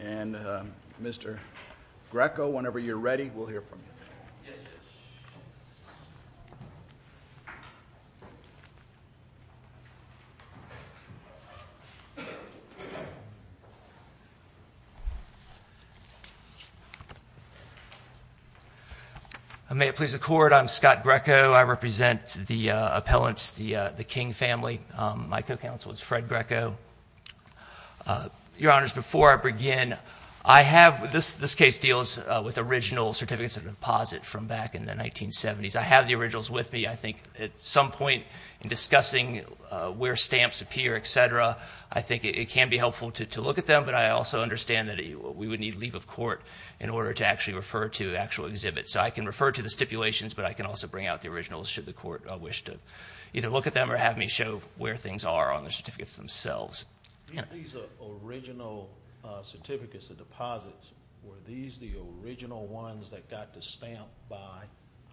and Mr. Greco, whenever you're ready, we'll hear from you. May it please the Court, I'm Scott Greco. I represent the appellants, the King family. My co-counsel is Fred Greco. Your Honors, before I begin, I have, this case deals with original certificates of deposit from back in the 1970s. I have the originals with me. I think at some point in discussing where stamps appear, etc., I think it can be helpful to look at them, but I also understand that we would need leave of court in order to actually refer to actual exhibits. So I can refer to the where things are on the certificates themselves. Were these the original ones that got the stamp by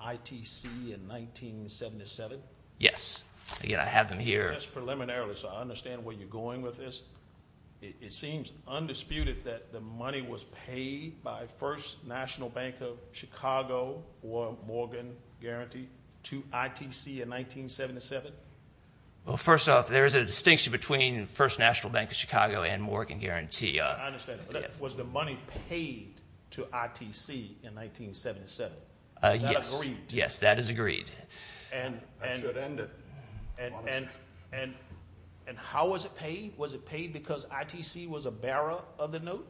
ITC in 1977? Yes. Again, I have them here. Just preliminarily, so I understand where you're going with this. It seems undisputed that the money was paid by First National Bank of Chicago or First off, there is a distinction between First National Bank of Chicago and Morgan Guarantee. I understand. Was the money paid to ITC in 1977? Yes, that is agreed. And how was it paid? Was it paid because ITC was a bearer of the note?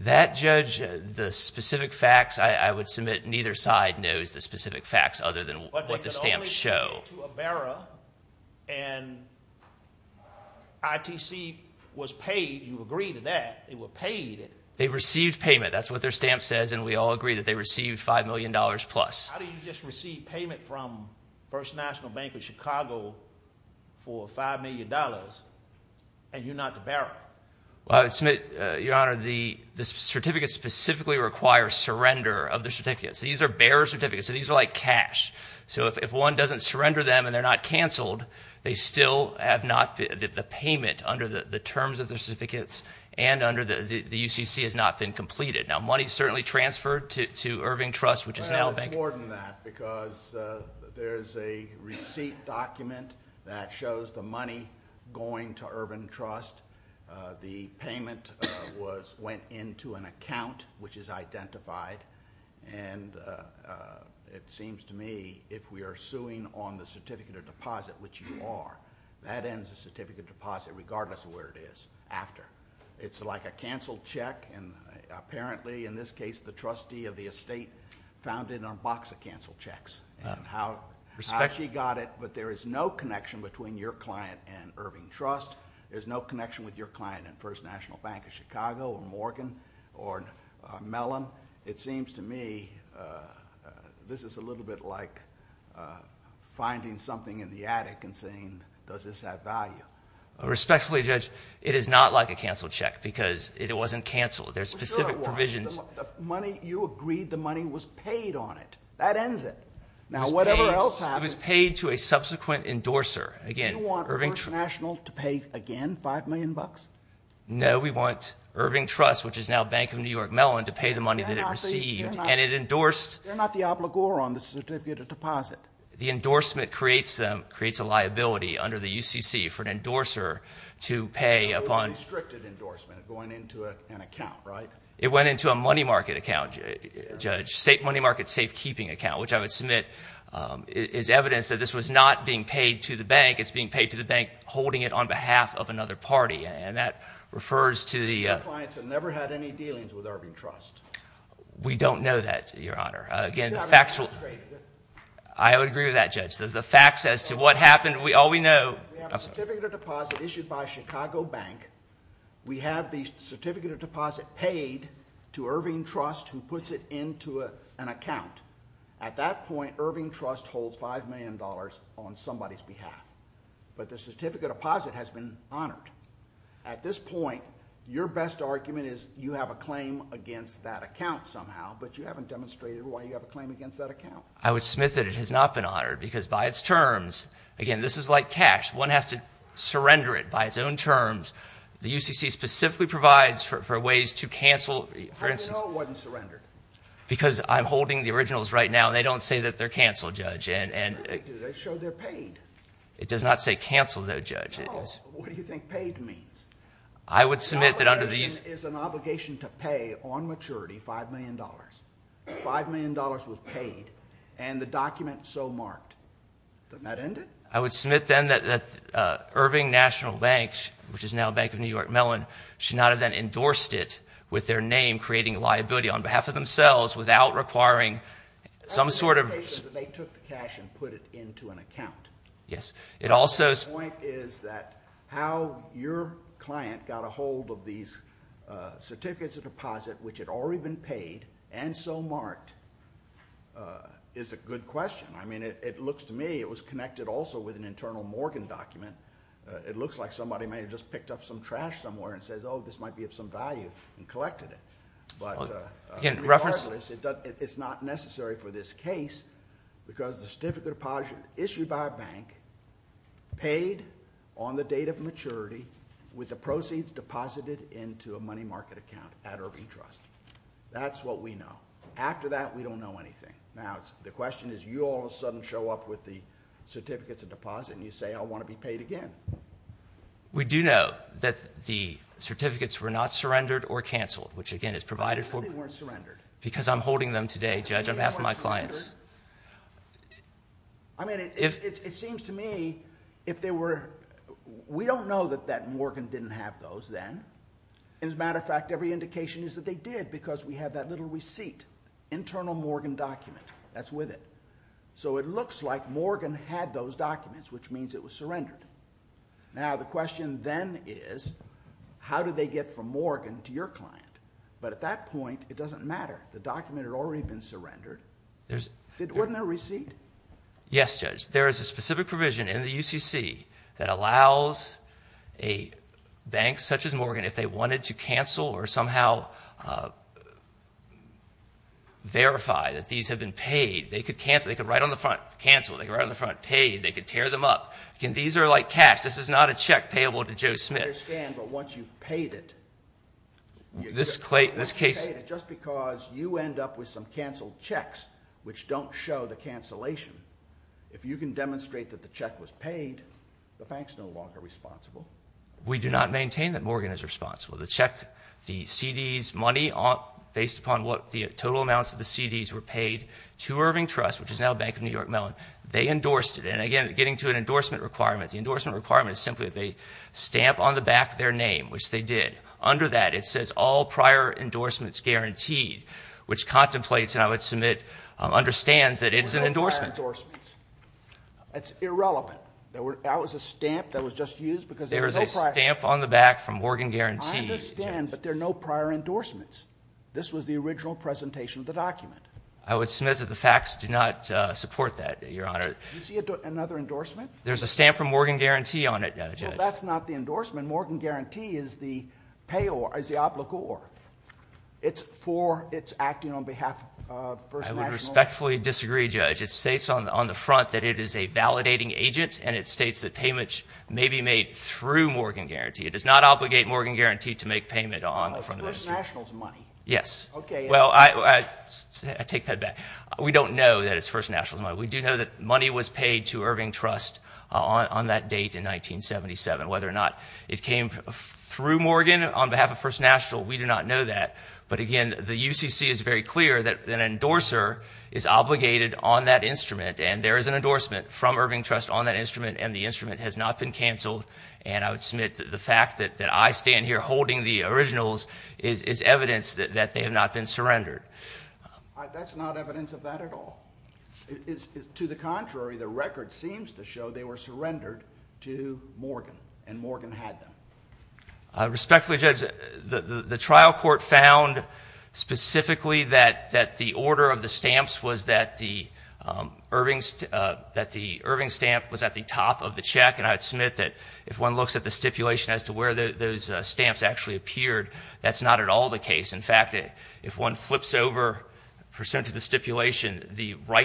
That judge, the specific facts, I would submit neither side knows the specific facts other than what the stamps show. But they could only pay it to a bearer and ITC was paid. You agree to that. They were paid. They received payment. That's what their stamp says and we all agree that they received $5 million plus. How do you just receive payment from First National Bank of Chicago for $5 million and you're not the bearer? I would submit, Your Honor, the certificates specifically require surrender of the certificates. These are bearer certificates, so these are like cash. So if one doesn't surrender them and they're not canceled, they still have not, the payment under the terms of the certificates and under the UCC has not been completed. Now money is certainly transferred to Irving Trust, which is now a bank. It's more than that because there's a receipt document that shows the money going to Irving Trust. The payment went into an account, which is identified and it seems to me if we are suing on the certificate of deposit, which you are, that ends the certificate of deposit regardless of where it is after. It's like a canceled check and apparently in this case the trustee of the there is no connection between your client and Irving Trust. There's no connection with your client at First National Bank of Chicago or Morgan or Mellon. It seems to me this is a little bit like finding something in the attic and saying, does this have value? Respectfully, Judge, it is not like a canceled check because it wasn't canceled. There's specific provisions. The money, you agreed the money was paid on it. That ends it. Now whatever else happens. It was paid to a subsequent endorser. Do you want First National to pay again 5 million bucks? No, we want Irving Trust, which is now Bank of New York Mellon to pay the money that it received and it endorsed. They're not the obligor on the certificate of deposit. The endorsement creates a liability under the UCC for an endorser to pay upon. It's a constricted endorsement going into an account, right? It went into a money market account, Judge. Money market safekeeping account, which I would submit is evidence that this was not being paid to the bank. It's being paid to the bank holding it on behalf of another party and that refers to the clients have never had any dealings with Irving Trust. We don't know that, Your Honor. I would agree with that, Judge. We have a certificate of deposit issued by Chicago Bank. We have the certificate of deposit paid to Irving Trust who puts it into an account. At that point, Irving Trust holds 5 million dollars on somebody's behalf. But the certificate of deposit has been honored. At this point, your best argument is you have a claim against that account somehow, but you haven't demonstrated why you have a claim against that account. I would submit that it has not been honored because by its terms, again, this is like cash. One has to surrender it by its own terms. The UCC specifically provides for ways to cancel. I know it wasn't surrendered. Because I'm holding the originals right now and they don't say that they're canceled, Judge. They show they're paid. It does not say canceled, though, Judge. No. What do you think paid means? It's an obligation to pay on maturity 5 million dollars. 5 million dollars was paid and the document so marked. That end it? I would submit then that Irving National Bank, which is now Bank of New York Mellon, should not have then endorsed it with their name creating a liability on behalf of themselves without requiring some sort of... That's an obligation that they took the cash and put it into an account. The point is that how your client got a hold of these certificates of deposit, which had already been paid and so marked, is a good question. I mean, it looks to me it was connected also with an internal Morgan document. It looks like somebody may have just picked up some trash somewhere and said, oh, this might be of some value and collected it. Regardless, it's not necessary for this case because the certificate of deposit issued by a bank paid on the date of maturity with the proceeds deposited into a money market account at Irving Trust. That's what we know. After that, we don't know anything. Now, the question is, you all of a sudden show up with the certificates of deposit and you say, I want to be paid again. We do know that the certificates were not surrendered or canceled, which again is provided for... Because I'm holding them today, Judge, on behalf of my clients. It seems to me if they were... We don't know that Morgan didn't have those then. As a matter of fact, every indication is that they did because we have that little receipt, internal Morgan document that's with it. It looks like Morgan had those documents, which means it was surrendered. Now, the question then is, how did they get from Morgan to your client? At that point, it doesn't matter. The document had already been surrendered. Wasn't there a receipt? Yes, Judge. There is a specific provision in the UCC that allows a bank such as Morgan, if they wanted to cancel or somehow verify that these have been paid, they could write on the front, cancel. They could write on the front, paid. They could tear them up. These are like cash. This is not a check payable to Joe Smith. I understand, but once you've paid it, just because you end up with some canceled checks which don't show the cancellation, if you can demonstrate that the check was paid, the bank's no longer responsible. We do not maintain that Morgan is responsible. The check, the CD's money, based upon what the total amounts of the CD's were paid to Irving Trust, which is now Bank of New York Mellon, they endorsed it. And again, getting to an endorsement requirement, the endorsement requirement is simply that they stamp on the back their name, which they did. Under that, it says all prior endorsements guaranteed, which contemplates and I would submit understands that it is an endorsement. All prior endorsements. It's irrelevant. That was a stamp that was just used because there was no prior. There was a stamp on the back from Morgan Guarantee. I understand, but there are no prior endorsements. This was the original presentation of the document. I would submit that the facts do not support that, Your Honor. Do you see another endorsement? There's a stamp from Morgan Guarantee on it, Judge. Well, that's not the endorsement. Morgan Guarantee is the payor, is the obligor. It's for, it's acting on behalf of First National. I would respectfully disagree, Judge. It states on the front that it is a validating agent, and it states that payments may be made through Morgan Guarantee. It does not obligate Morgan Guarantee to make payment on the front of a CD. It's First National's money. Yes. Well, I take that back. We don't know that it's First National's money. We do know that money was paid to Irving Trust on that date in 1977. Whether or not it came through Morgan on behalf of First National, we do not know that. But again, the UCC is very clear that an endorser is obligated on that instrument, and there is an endorsement from Irving Trust on that instrument, and the instrument has not been canceled. And I would submit that the fact that I stand here holding the originals is evidence that they have not been surrendered. That's not evidence of that at all. To the contrary, the record seems to show they were surrendered to Morgan, and Morgan had them. Respectfully, Judge, the trial court found specifically that the order of the stamps was that the Irving stamp was at the top of the check, and I would submit that if one looks at the stipulation as to where those stamps actually appeared, that's not at all the right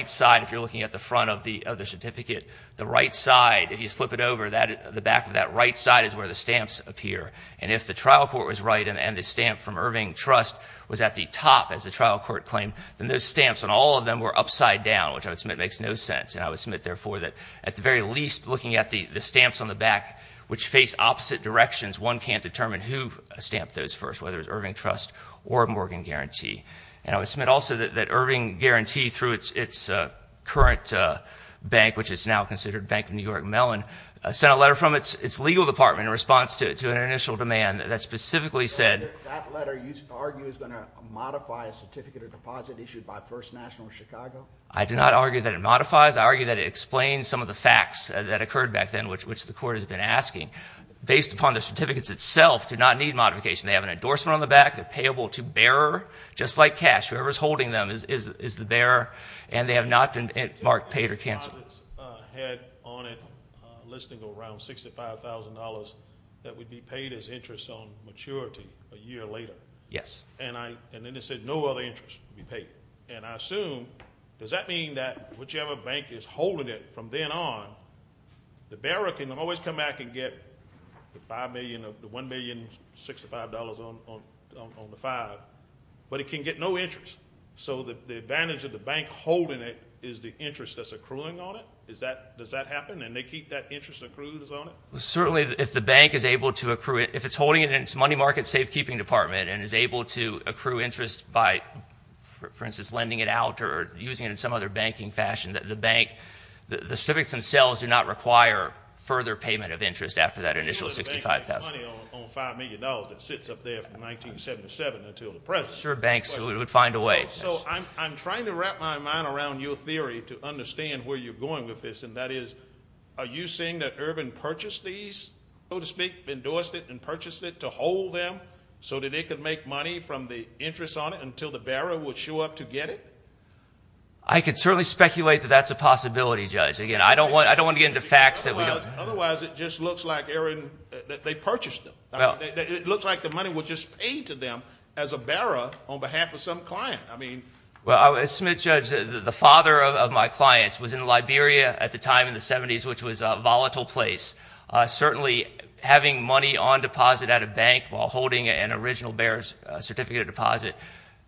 side. If you're looking at the front of the certificate, the right side, if you flip it over, the back of that right side is where the stamps appear. And if the trial court was right and the stamp from Irving Trust was at the top, as the trial court claimed, then those stamps on all of them were upside down, which I would submit makes no sense. And I would submit, therefore, that at the very least, looking at the stamps on the back which face opposite directions, one can't determine who stamped those first, whether it's Irving Trust or Morgan Guarantee. And I would submit also that Irving Guarantee, through its current bank, which is now considered Bank of New York Mellon, sent a letter from its legal department in response to an initial demand that specifically said that letter you argue is going to modify a certificate of deposit issued by First National Chicago? I do not argue that it modifies. I argue that it explains some of the facts that occurred back then, which the court has been able to bear, just like cash. Whoever is holding them is the bearer, and they have not been marked paid or canceled. The deposit had on it a listing of around $65,000 that would be paid as interest on maturity a year later. Yes. And then it said no other interest would be paid. And I assume, does that mean that whichever bank is holding it from then on, the bearer can always come back and get the $1,065,000 on the file, but it can get no interest. So the advantage of the bank holding it is the interest that's accruing on it? Does that happen, and they keep that interest accrued on it? Certainly, if the bank is able to accrue it. If it's holding it in its money market safekeeping department and is able to accrue interest by, for instance, lending it out or using it in some other banking fashion, the bank, the certificates themselves do not require further payment of interest after that initial $65,000. Sure, banks would find a way. So I'm trying to wrap my mind around your theory to understand where you're going with this, and that is, are you saying that Urban purchased these, so to speak, endorsed it and purchased it to hold them so that it could make money from the interest on it until the bearer would show up to get it? I could certainly speculate that that's a possibility, Judge. Again, I don't want to get into facts that we don't have. Otherwise, it just looks like they purchased them. It looks like the money was just paid to them as a bearer on behalf of some client. Well, as Smith judges, the father of my clients was in Liberia at the time in the 70s, which was a volatile place. Certainly, having money on deposit at a bank while holding an original bearer's certificate of deposit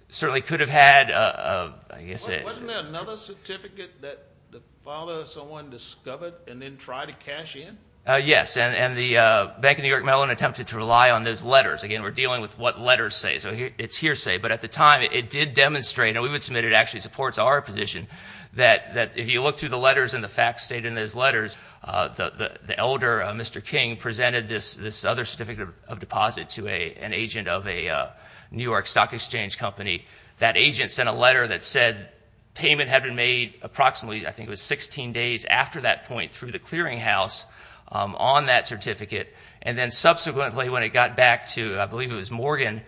certainly could have had, I guess it Wasn't there another certificate that the father of someone discovered and then tried to cash in? Yes, and the Bank of New York Mellon attempted to rely on those letters. Again, we're dealing with what letters say, so it's hearsay. But at the time, it did demonstrate, and we would submit it actually supports our position, that if you look through the letters and the facts stated in those letters, the elder, Mr. King, presented this other certificate of deposit to an agent of a New York stock exchange company. That agent sent a letter that said payment had been made approximately, I think it was 16 days after that point through the clearinghouse on that certificate. And then subsequently, when it got back to, I believe it was Morgan,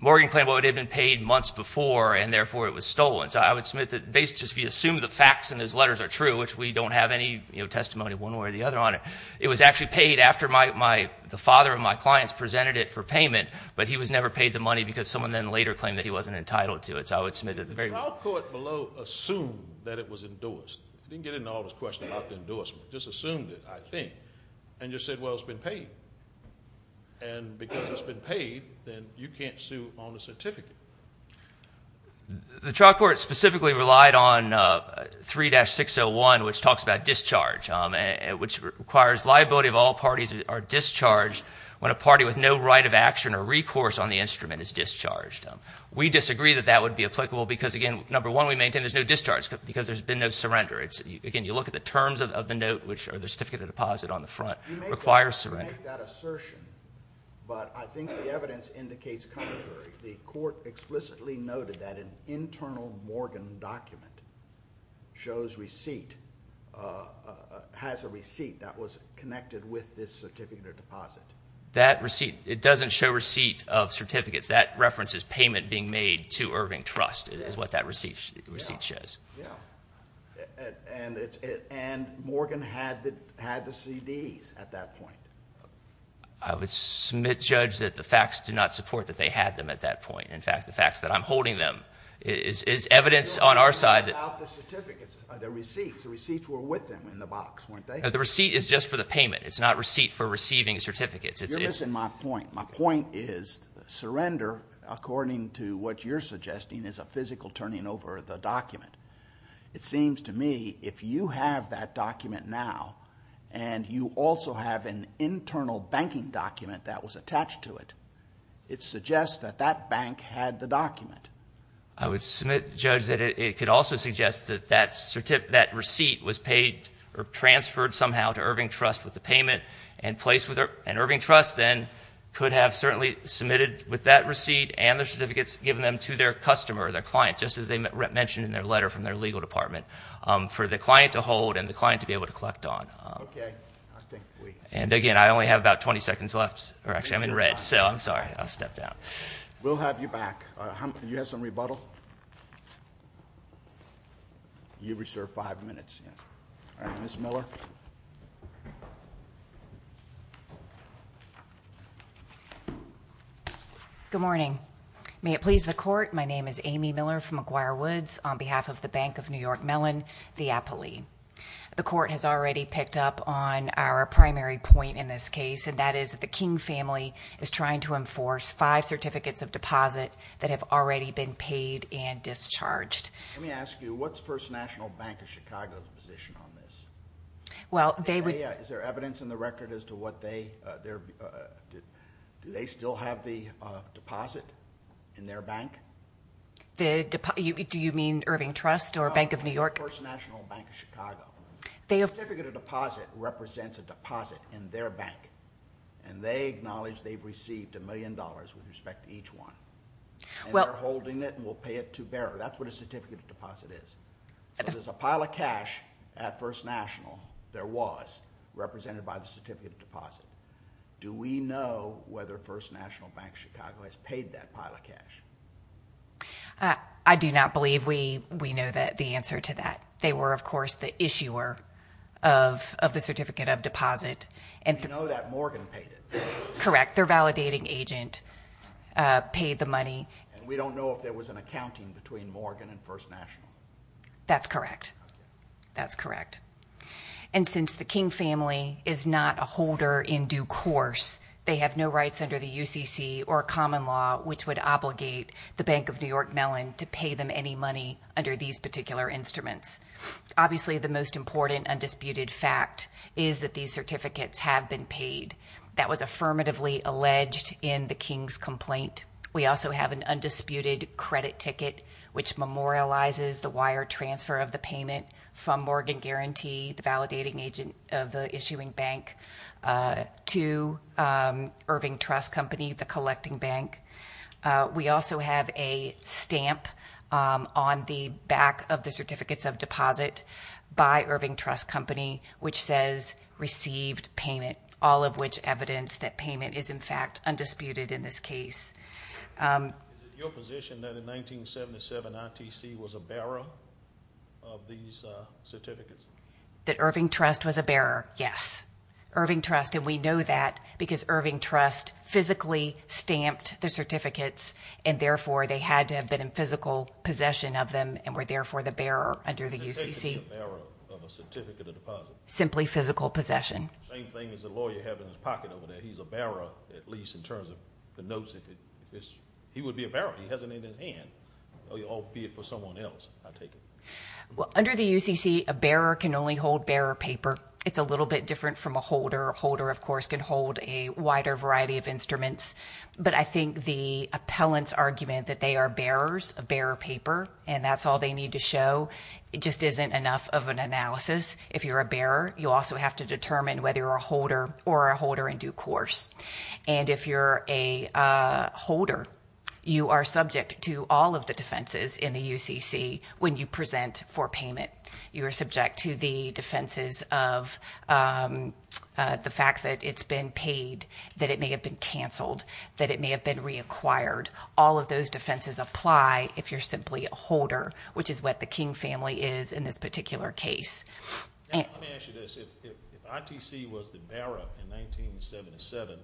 Morgan claimed it had been paid months before, and therefore it was stolen. So I would submit that if you assume the facts in those letters are true, which we don't have any testimony one way or the other on it, it was actually paid after the father of my clients presented it for payment, but he was never paid the money because someone then later claimed that he wasn't entitled to it. So I would submit that the very... The trial court below assumed that it was endorsed. Didn't get into all this question about the endorsement. Just assumed it, I think. And just said, well, it's been paid. And because it's been paid, then you can't sue on the certificate. The trial court specifically relied on 3-601, which talks about discharge, which requires liability of all parties who are discharged when a party with no right of action or recourse on the instrument is discharged. We disagree that that would be applicable because, again, number one, we maintain there's no discharge because there's been no surrender. Again, you look at the terms of the note, which are the certificate of deposit on the front, requires surrender. You make that assertion, but I think the evidence indicates contrary. The court explicitly noted that an internal Morgan document shows receipt, has a receipt that was connected with this certificate of deposit. That receipt, it doesn't show receipt of purchase. And Morgan had the CDs at that point. I would submit, judge that the facts do not support that they had them at that point. In fact, the facts that I'm holding them is evidence on our side... The receipts were with them in the box, weren't they? The receipt is just for the payment. It's not receipt for receiving certificates. You're missing my point. My point is surrender, according to what you're suggesting, is a physical turning over of the document. It seems to me if you have that document now and you also have an internal banking document that was attached to it, it suggests that that bank had the document. I would submit, judge, that it could also suggest that that receipt was paid or transferred somehow to Irving Trust with the payment and placed with Irving Trust then could have certainly submitted with that receipt and the certificates given them to their customer, their client, just as they mentioned in their letter from their legal department, for the client to hold and the client to be able to collect on. And again, I only have about 20 seconds left. Actually, I'm in red, so I'm sorry. I'll step down. We'll have you back. Do you have some rebuttal? You reserve five minutes. Ms. Miller. Good morning. May it please the court, my name is Amy Miller from McGuire Woods on behalf of the Bank of New York Mellon, the appellee. The court has already picked up on our primary point in this case, and that is that the King family is trying to enforce five certificates of deposit that have already been paid and discharged. Let me ask you, what's First National Bank of Chicago's position on this? Is there evidence in the record as to what they, do they still have the deposit in their bank? Do you mean Irving Trust or Bank of New York? No, First National Bank of Chicago. A certificate of deposit represents a deposit in their bank. And they acknowledge they've received a million dollars with respect to each one. And they're holding it and will pay it to bearer. That's what a certificate of deposit is. So there's a pile of cash at First National, there was, represented by the certificate of deposit. Do we know whether First National Bank of Chicago has paid that pile of cash? I do not believe we know the answer to that. They were, of course, the issuer of the certificate of deposit. We know that Morgan paid it. Correct. Their validating agent paid the money. And we don't know if there was an accounting between Morgan and First National. That's correct. That's correct. And since the King family is not a holder in common law, which would obligate the Bank of New York Mellon to pay them any money under these particular instruments. Obviously, the most important undisputed fact is that these certificates have been paid. That was affirmatively alleged in the King's complaint. We also have an undisputed credit ticket, which memorializes the wire transfer of the payment from Morgan Guarantee, the validating agent of the issuing bank, to Irving Trust Company, the collecting bank. We also have a stamp on the back of the certificates of deposit by Irving Trust Company, which says received payment, all of which evidence that payment is, in fact, undisputed in this case. Is it your position that in 1977 ITC was a bearer of these certificates? That Irving Trust was a bearer, yes. Irving Trust, and we know that because Irving Trust physically stamped their certificates and therefore they had to have been in physical possession of them and were therefore the bearer under the UCC. Simply physical possession. Same thing as the lawyer having his pocket over there. He's a bearer, at least in terms of the notes. He would be a bearer. He has it in his hand, albeit for someone else, I take it. Under the UCC, a bearer can only hold bearer paper. It's a little bit different from a holder. A holder, of course, can hold a wider variety of instruments. But I think the appellant's argument that they are bearers of bearer paper and that's all they need to show just isn't enough of an analysis. If you're a bearer, you also have to be a holder. You are subject to all of the defenses in the UCC when you present for payment. You are subject to the defenses of the fact that it's been paid, that it may have been canceled, that it may have been reacquired. All of those defenses apply if you're simply a holder, which is what the King family is in this particular case. Let me ask you this. If ITC was the bearer in 1977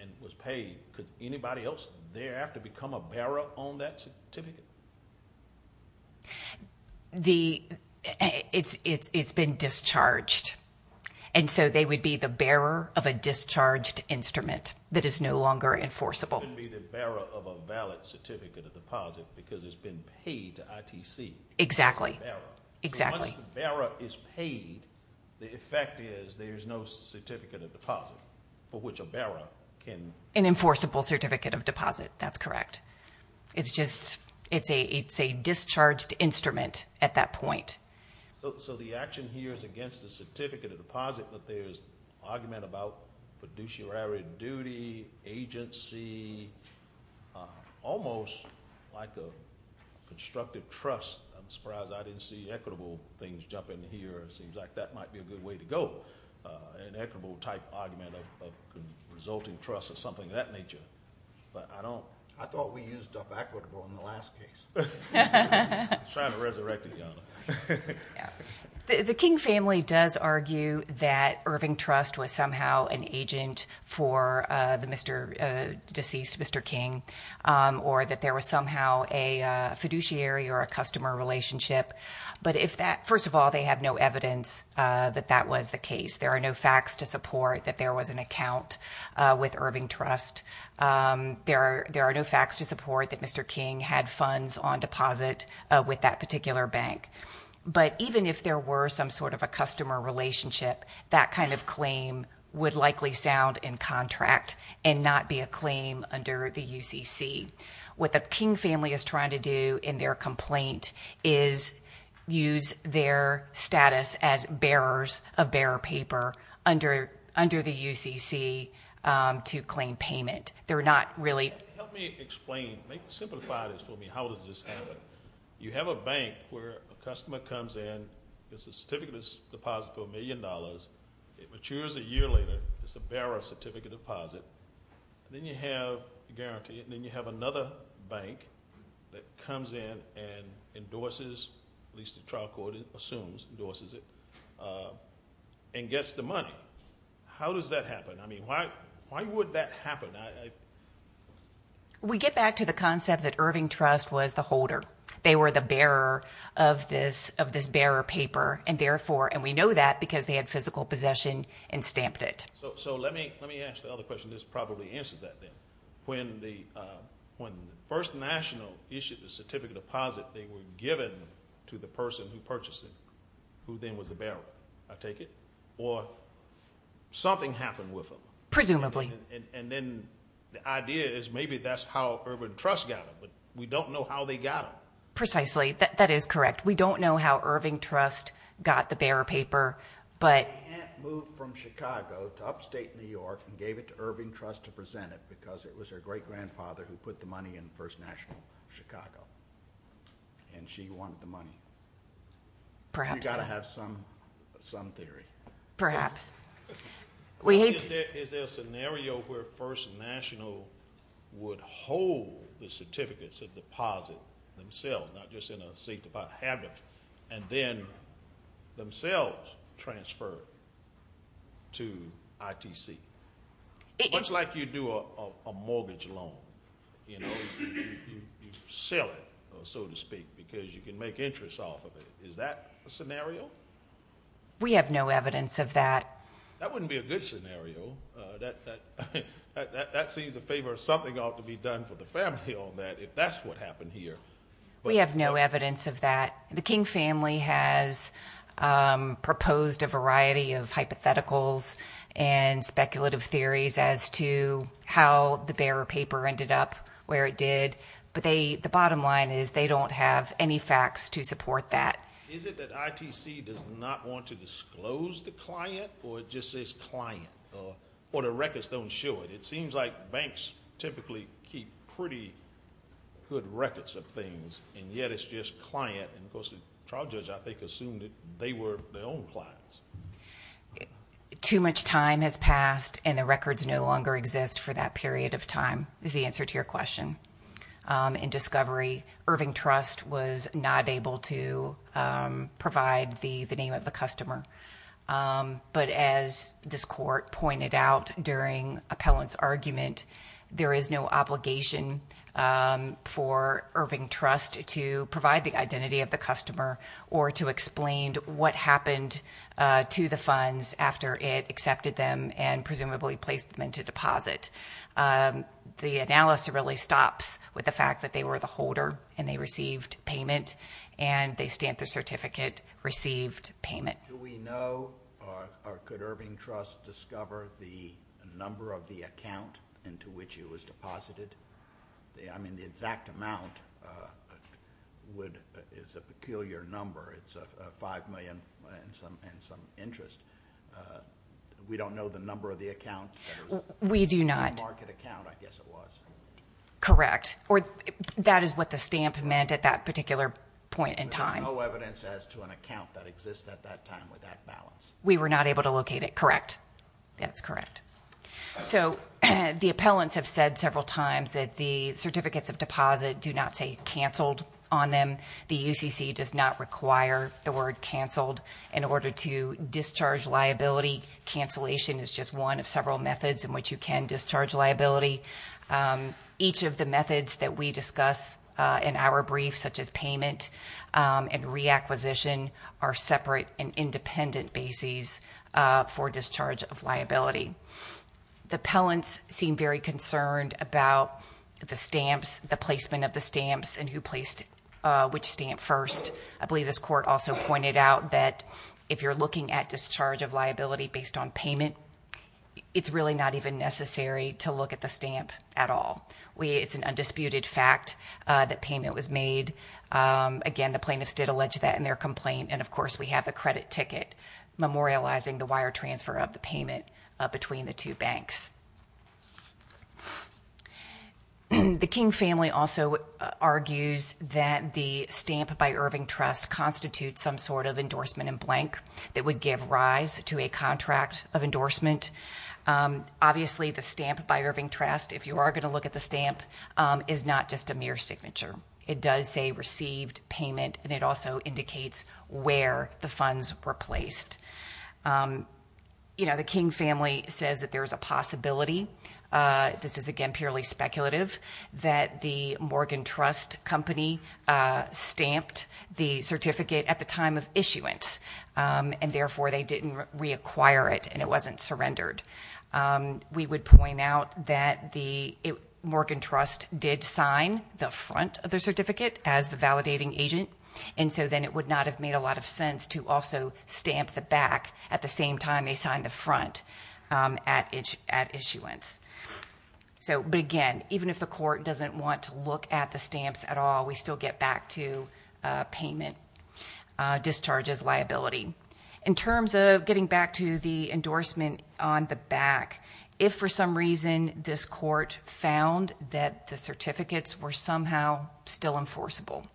and was paid, could anybody else thereafter become a bearer on that certificate? It's been discharged. They would be the bearer of a discharged instrument that is no longer enforceable. It wouldn't be the bearer of a valid certificate of deposit because it's been paid to ITC. Exactly. Once the bearer is paid, the effect is there's no certificate of deposit for which a bearer can... An enforceable certificate of deposit. That's correct. It's a discharged instrument at that point. So the action here is against the certificate of deposit, but there's argument about fiduciary duty, agency, almost like a constructive trust. I'm surprised I didn't see equitable things jump in here. It seems like that might be a good way to go. An equitable type argument of resulting trust or something of that nature. I thought we used up equitable in the last case. I'm trying to resurrect it, Your Honor. The King family does argue that Irving Trust was somehow an agent for the deceased Mr. King or that there was somehow a fiduciary or a customer relationship. But first of all, they have no evidence that that was the case. There are no facts to support that there was an account with Mr. King had funds on deposit with that particular bank. But even if there were some sort of a customer relationship, that kind of claim would likely sound in contract and not be a claim under the UCC. What the King family is trying to do in their complaint is use their status as bearers of bearer paper under the UCC to claim payment. How does this happen? You have a bank where a customer comes in, has a certificate of deposit for a million dollars. It matures a year later. It's a bearer certificate of deposit. Then you have a guarantee. Then you have another bank that comes in and endorses, at least the trial court assumes, endorses it and gets the money. How does that happen? Why would that happen? We get back to the concept that Irving Trust was the holder. They were the bearer of this bearer paper. We know that because they had physical possession and stamped it. Let me ask the other question. This probably answers that then. When the First National issued the certificate of deposit, they were given to the person who purchased it, who then was the bearer, I take it? Or something happened with them? Presumably. The idea is maybe that's how Irving Trust got them. We don't know how they got them. Precisely. That is correct. We don't know how Irving Trust got the bearer paper. The aunt moved from Chicago to upstate New York and gave it to Irving Trust to present it because it was her great-grandfather who put the money in First National Chicago. She wanted the money. We've got to have some theory. Perhaps. Is there a scenario where First National would hold the certificates of deposit themselves, not just in a sanctified habit, and then themselves transfer to ITC? Much like you do a mortgage loan. You sell it, so to speak, because you can make interest off of it. Is that a scenario? We have no evidence of that. That wouldn't be a good scenario. That seems a favor. Something ought to be done for the family on that if that's what happened here. We have no evidence of that. The King family has proposed a variety of hypotheticals and speculative theories as to how the bearer paper ended up where it did. The bottom line is they don't have any facts to support that. Is it that ITC does not want to disclose the client, or it just says client, or the records don't show it? It seems like banks typically keep pretty good records of things, and yet it's just client. The trial judge, I think, assumed that they were their own clients. Too much time has passed, and the records no longer exist for that period of time is the answer to your question. In discovery, Irving Trust was not able to provide the name of the customer. But as this court pointed out during appellant's argument, there is no obligation for Irving Trust to provide the identity of the customer or to explain what happened to the funds after it accepted them and presumably placed them into deposit. The analysis really stops with the fact that they were the holder, and they received payment, and they stamped their certificate, received payment. Do we know, or could Irving Trust discover the number of the account into which it was deposited? The exact amount is a peculiar number. It's 5 million and some interest. We don't know the number of the account. We do not. It's a market account, I guess it was. Correct. That is what the stamp meant at that particular point in time. There's no evidence as to an account that exists at that time with that balance. We were not able to locate it, correct. That's correct. The appellants have said several times that the appellant must require the word cancelled in order to discharge liability. Cancellation is just one of several methods in which you can discharge liability. Each of the methods that we discuss in our brief, such as payment and reacquisition, are separate and independent bases for discharge of liability. The appellants seem very concerned about the discharge of liability based on payment. It's really not even necessary to look at the stamp at all. It's an undisputed fact that payment was made. Again, the plaintiffs did allege that in their complaint, and of course we have the credit ticket memorializing the wire transfer of the payment between the two banks. The King family also argues that the stamp by Irving Trust constitutes some sort of endorsement in blank that would give rise to a contract of endorsement. Obviously the stamp by Irving Trust, if you are going to look at the stamp, is not just a mere signature. It does say received payment, and it also indicates where the funds were placed. The King family says that there is a possibility that the Morgan Trust company stamped the certificate at the time of issuance and therefore they didn't reacquire it and it wasn't surrendered. We would point out that the Morgan Trust did sign the front of the certificate as the validating agent, and so then it would not have made a lot of sense to also stamp the back at the same time they signed the front at issuance. But again, even if the court doesn't want to look at the stamps at all, we still get back to payment discharges liability. In terms of getting back to the endorsement on the back, if for some reason this court found that the certificates were somehow still enforceable,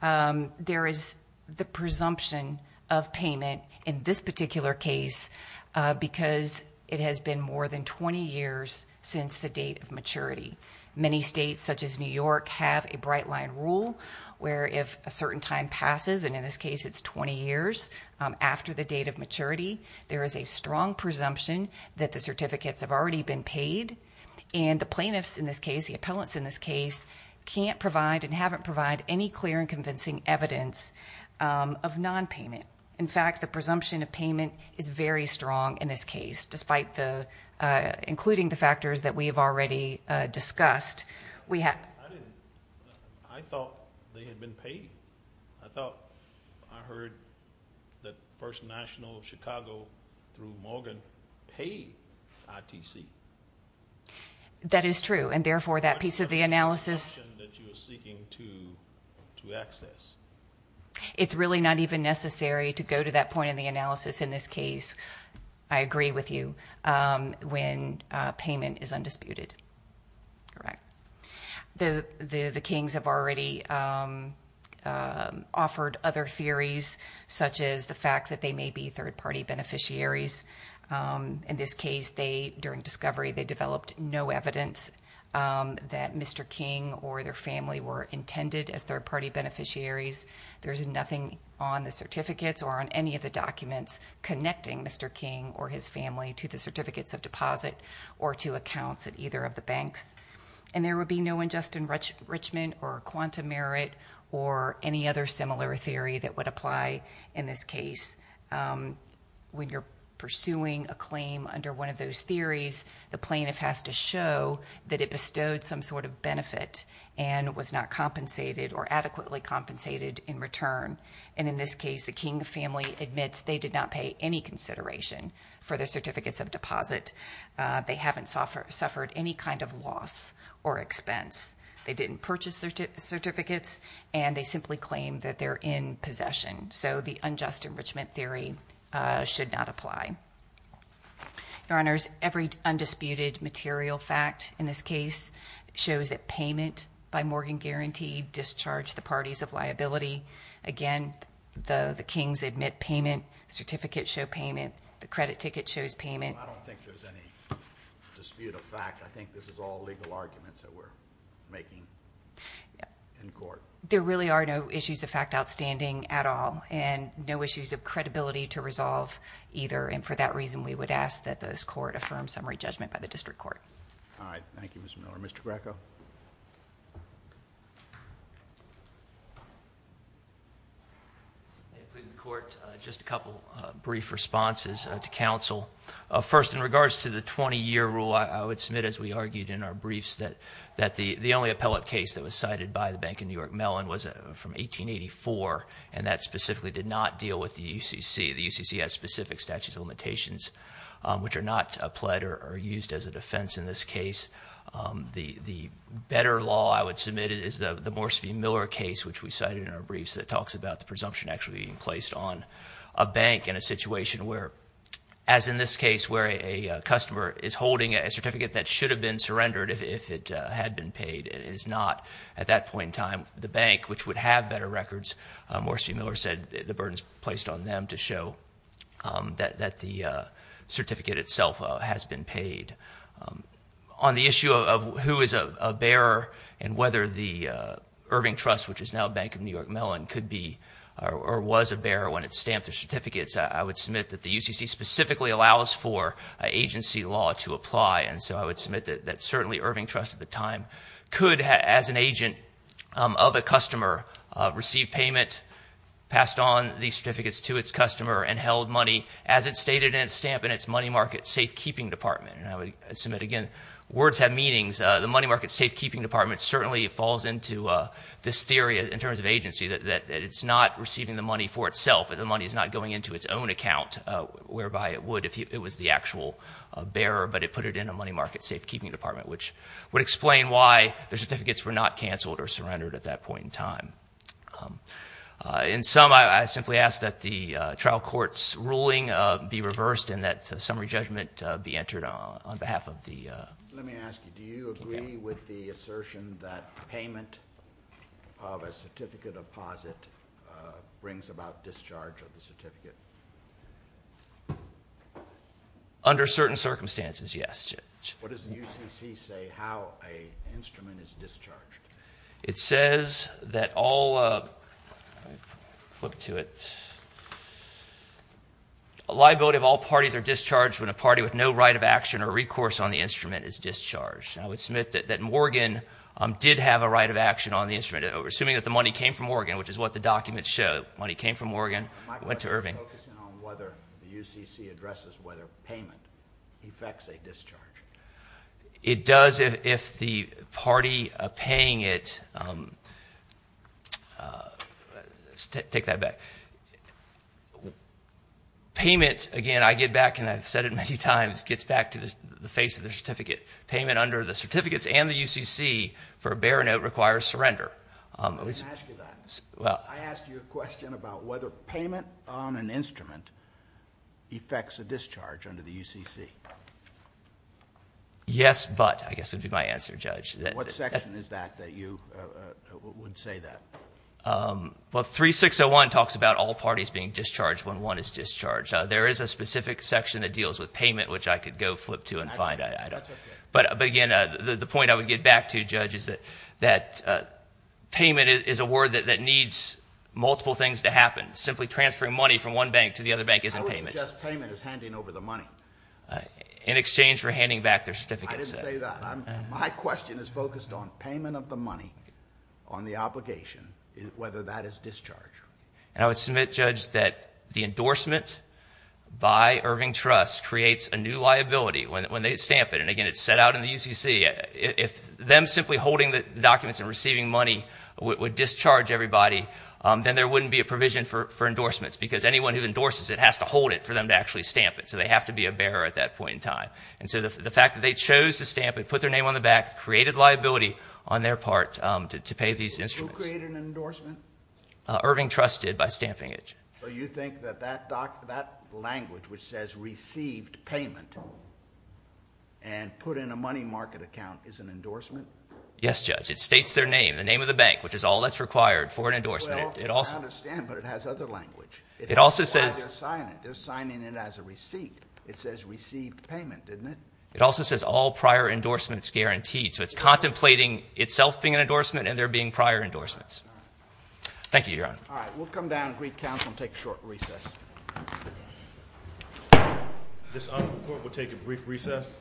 there is the presumption of payment in this particular case because it has been more than 20 years since the date of maturity. Many states, such as New York, have a bright line rule where if a certain time passes, and in this case it's 20 years after the date of maturity, there is a strong presumption that the certificates have already been paid, and the plaintiffs in this case, the appellants in this case, can't provide and haven't provided any clear and convincing evidence of non-payment. In fact, the presumption of payment is very strong in this case, including the factors that we have already discussed. I thought they had been paid. I thought I heard that First National of Chicago through Morgan paid ITC. That is true, and therefore that piece of the analysis... It's really not even necessary to go to that point in the analysis in this case. I agree with you when payment is undisputed. The Kings have already offered other theories, such as the fact that they may be third-party beneficiaries. In this case, during discovery, they developed no evidence that Mr. King or their family were intended as third-party beneficiaries. There is nothing on the certificates or on any of the documents connecting Mr. King or his family to the certificates of deposit or to accounts at either of the banks. There would be no ingest enrichment or quantum merit or any other similar theory that would apply in this case. When you're pursuing a claim under one of those theories, the plaintiff has to show that it bestowed some sort of benefit and was not compensated or adequately compensated in return. In this case, the King family admits they did not pay any consideration for their certificates of deposit. They haven't suffered any kind of loss or expense. They didn't purchase their certificates, and they simply claim that they're in possession. The unjust enrichment theory should not apply. Your Honors, every undisputed material fact in this case shows that payment by Morgan guaranteed discharged the parties of liability. Again, the Kings admit payment, certificates show payment, the credit ticket shows payment. I don't think there's any dispute of fact. I think this is all legal arguments that we're making in court. There really are no issues of fact outstanding at all, and no issues of credibility to resolve either. For that reason, we would ask that this Court affirm summary judgment by the District Court. Thank you, Ms. Miller. Mr. Greco. Please, the Court, just a couple brief responses to counsel. First, in regards to the 20-year rule, I would submit, as we argued in our briefs, that the only appellate case that was cited by the Bank of New York Mellon was from 1884, and that specifically did not deal with the UCC. The UCC has specific statutes of limitations which are not pled or used as a defense in this case. The better law, I would submit, is the Morse v. Miller case, which we cited in our briefs, that talks about the presumption actually being placed on a bank in a situation where, as in this case where a customer is holding a certificate that should have been surrendered if it had been paid, it is not. At that point in time, the bank, which would have better records, Morse v. Miller said the burden is placed on them to show that the certificate itself has been paid. On the issue of who is a bearer and whether the Irving Trust, which is now Bank of New York Mellon, could be or was a bearer when it stamped their certificates, I would submit that the UCC specifically allows for agency law to apply, and so I would submit that certainly Irving Trust at the time could, as an agent of a customer, receive payment, passed on these certificates to its customer, and held money as it stated in its stamp in its money market safekeeping department. And I would submit again, words have meanings. The money market safekeeping department certainly falls into this theory in terms of agency, that it's not receiving the money for itself, that the money is not going into its own account, whereby it would if it was the actual bearer, but it put it in a money market safekeeping department, which would explain why the certificates were not canceled or surrendered at that point in time. In sum, I simply ask that the trial court's ruling be reversed and that summary judgment be entered on behalf of the... Let me ask you, do you agree with the assertion that payment of a certificate deposit brings about discharge of the certificate? Under certain circumstances, yes. What does the UCC say how an instrument is discharged? It says that all... A liability of all parties are discharged when a party with no right of action or recourse on the instrument is discharged. I would submit that Morgan did have a right of action on the instrument, assuming that the money came from Morgan, which is what the documents show. Money came from Morgan, went to Irving. Are you focusing on whether the UCC addresses whether payment effects a discharge? It does if the party paying it... Let's take that back. Payment, again, I get back and I've said it many times, gets back to the face of the certificate. Payment under the certificates and the UCC for a bearer note requires surrender. Let me ask you that. I asked you a question about whether payment on an instrument effects a discharge under the UCC. Yes, but, I guess would be my answer, Judge. What section is that that you would say that? 3601 talks about all parties being discharged when one is discharged. There is a specific section that deals with payment, which I could go flip to and find out. The point I would get back to, Judge, is that payment is a word that needs multiple things to happen. Simply transferring money from one bank to the other bank isn't payment. I would suggest payment is handing over the money. In exchange for handing back their certificate. I didn't say that. My question is focused on payment of the money on the obligation, whether that is discharge. I would submit, Judge, that the endorsement by Irving Trust creates a new liability when they stamp it. Again, it's set out in the UCC. If them simply holding the documents and receiving money would discharge everybody, then there wouldn't be a provision for endorsements because anyone who endorses it has to hold it for them to actually stamp it, so they have to be a bearer at that point in time. The fact that they chose to stamp it, put their name on the back, created liability on their part to pay these instruments. Who created an endorsement? Irving Trust did by stamping it. You think that language which says received payment and put in a money market account is an endorsement? Yes, Judge. It states their name, the name of the bank, which is all that's required for an endorsement. I understand, but it has other language. They're signing it as a receipt. It says received payment, isn't it? It also says all prior endorsements guaranteed, so it's contemplating itself being an endorsement and there being prior endorsements. Thank you, Your Honor. All right, we'll come down and brief counsel and take a short recess. This honorable court will take a brief recess.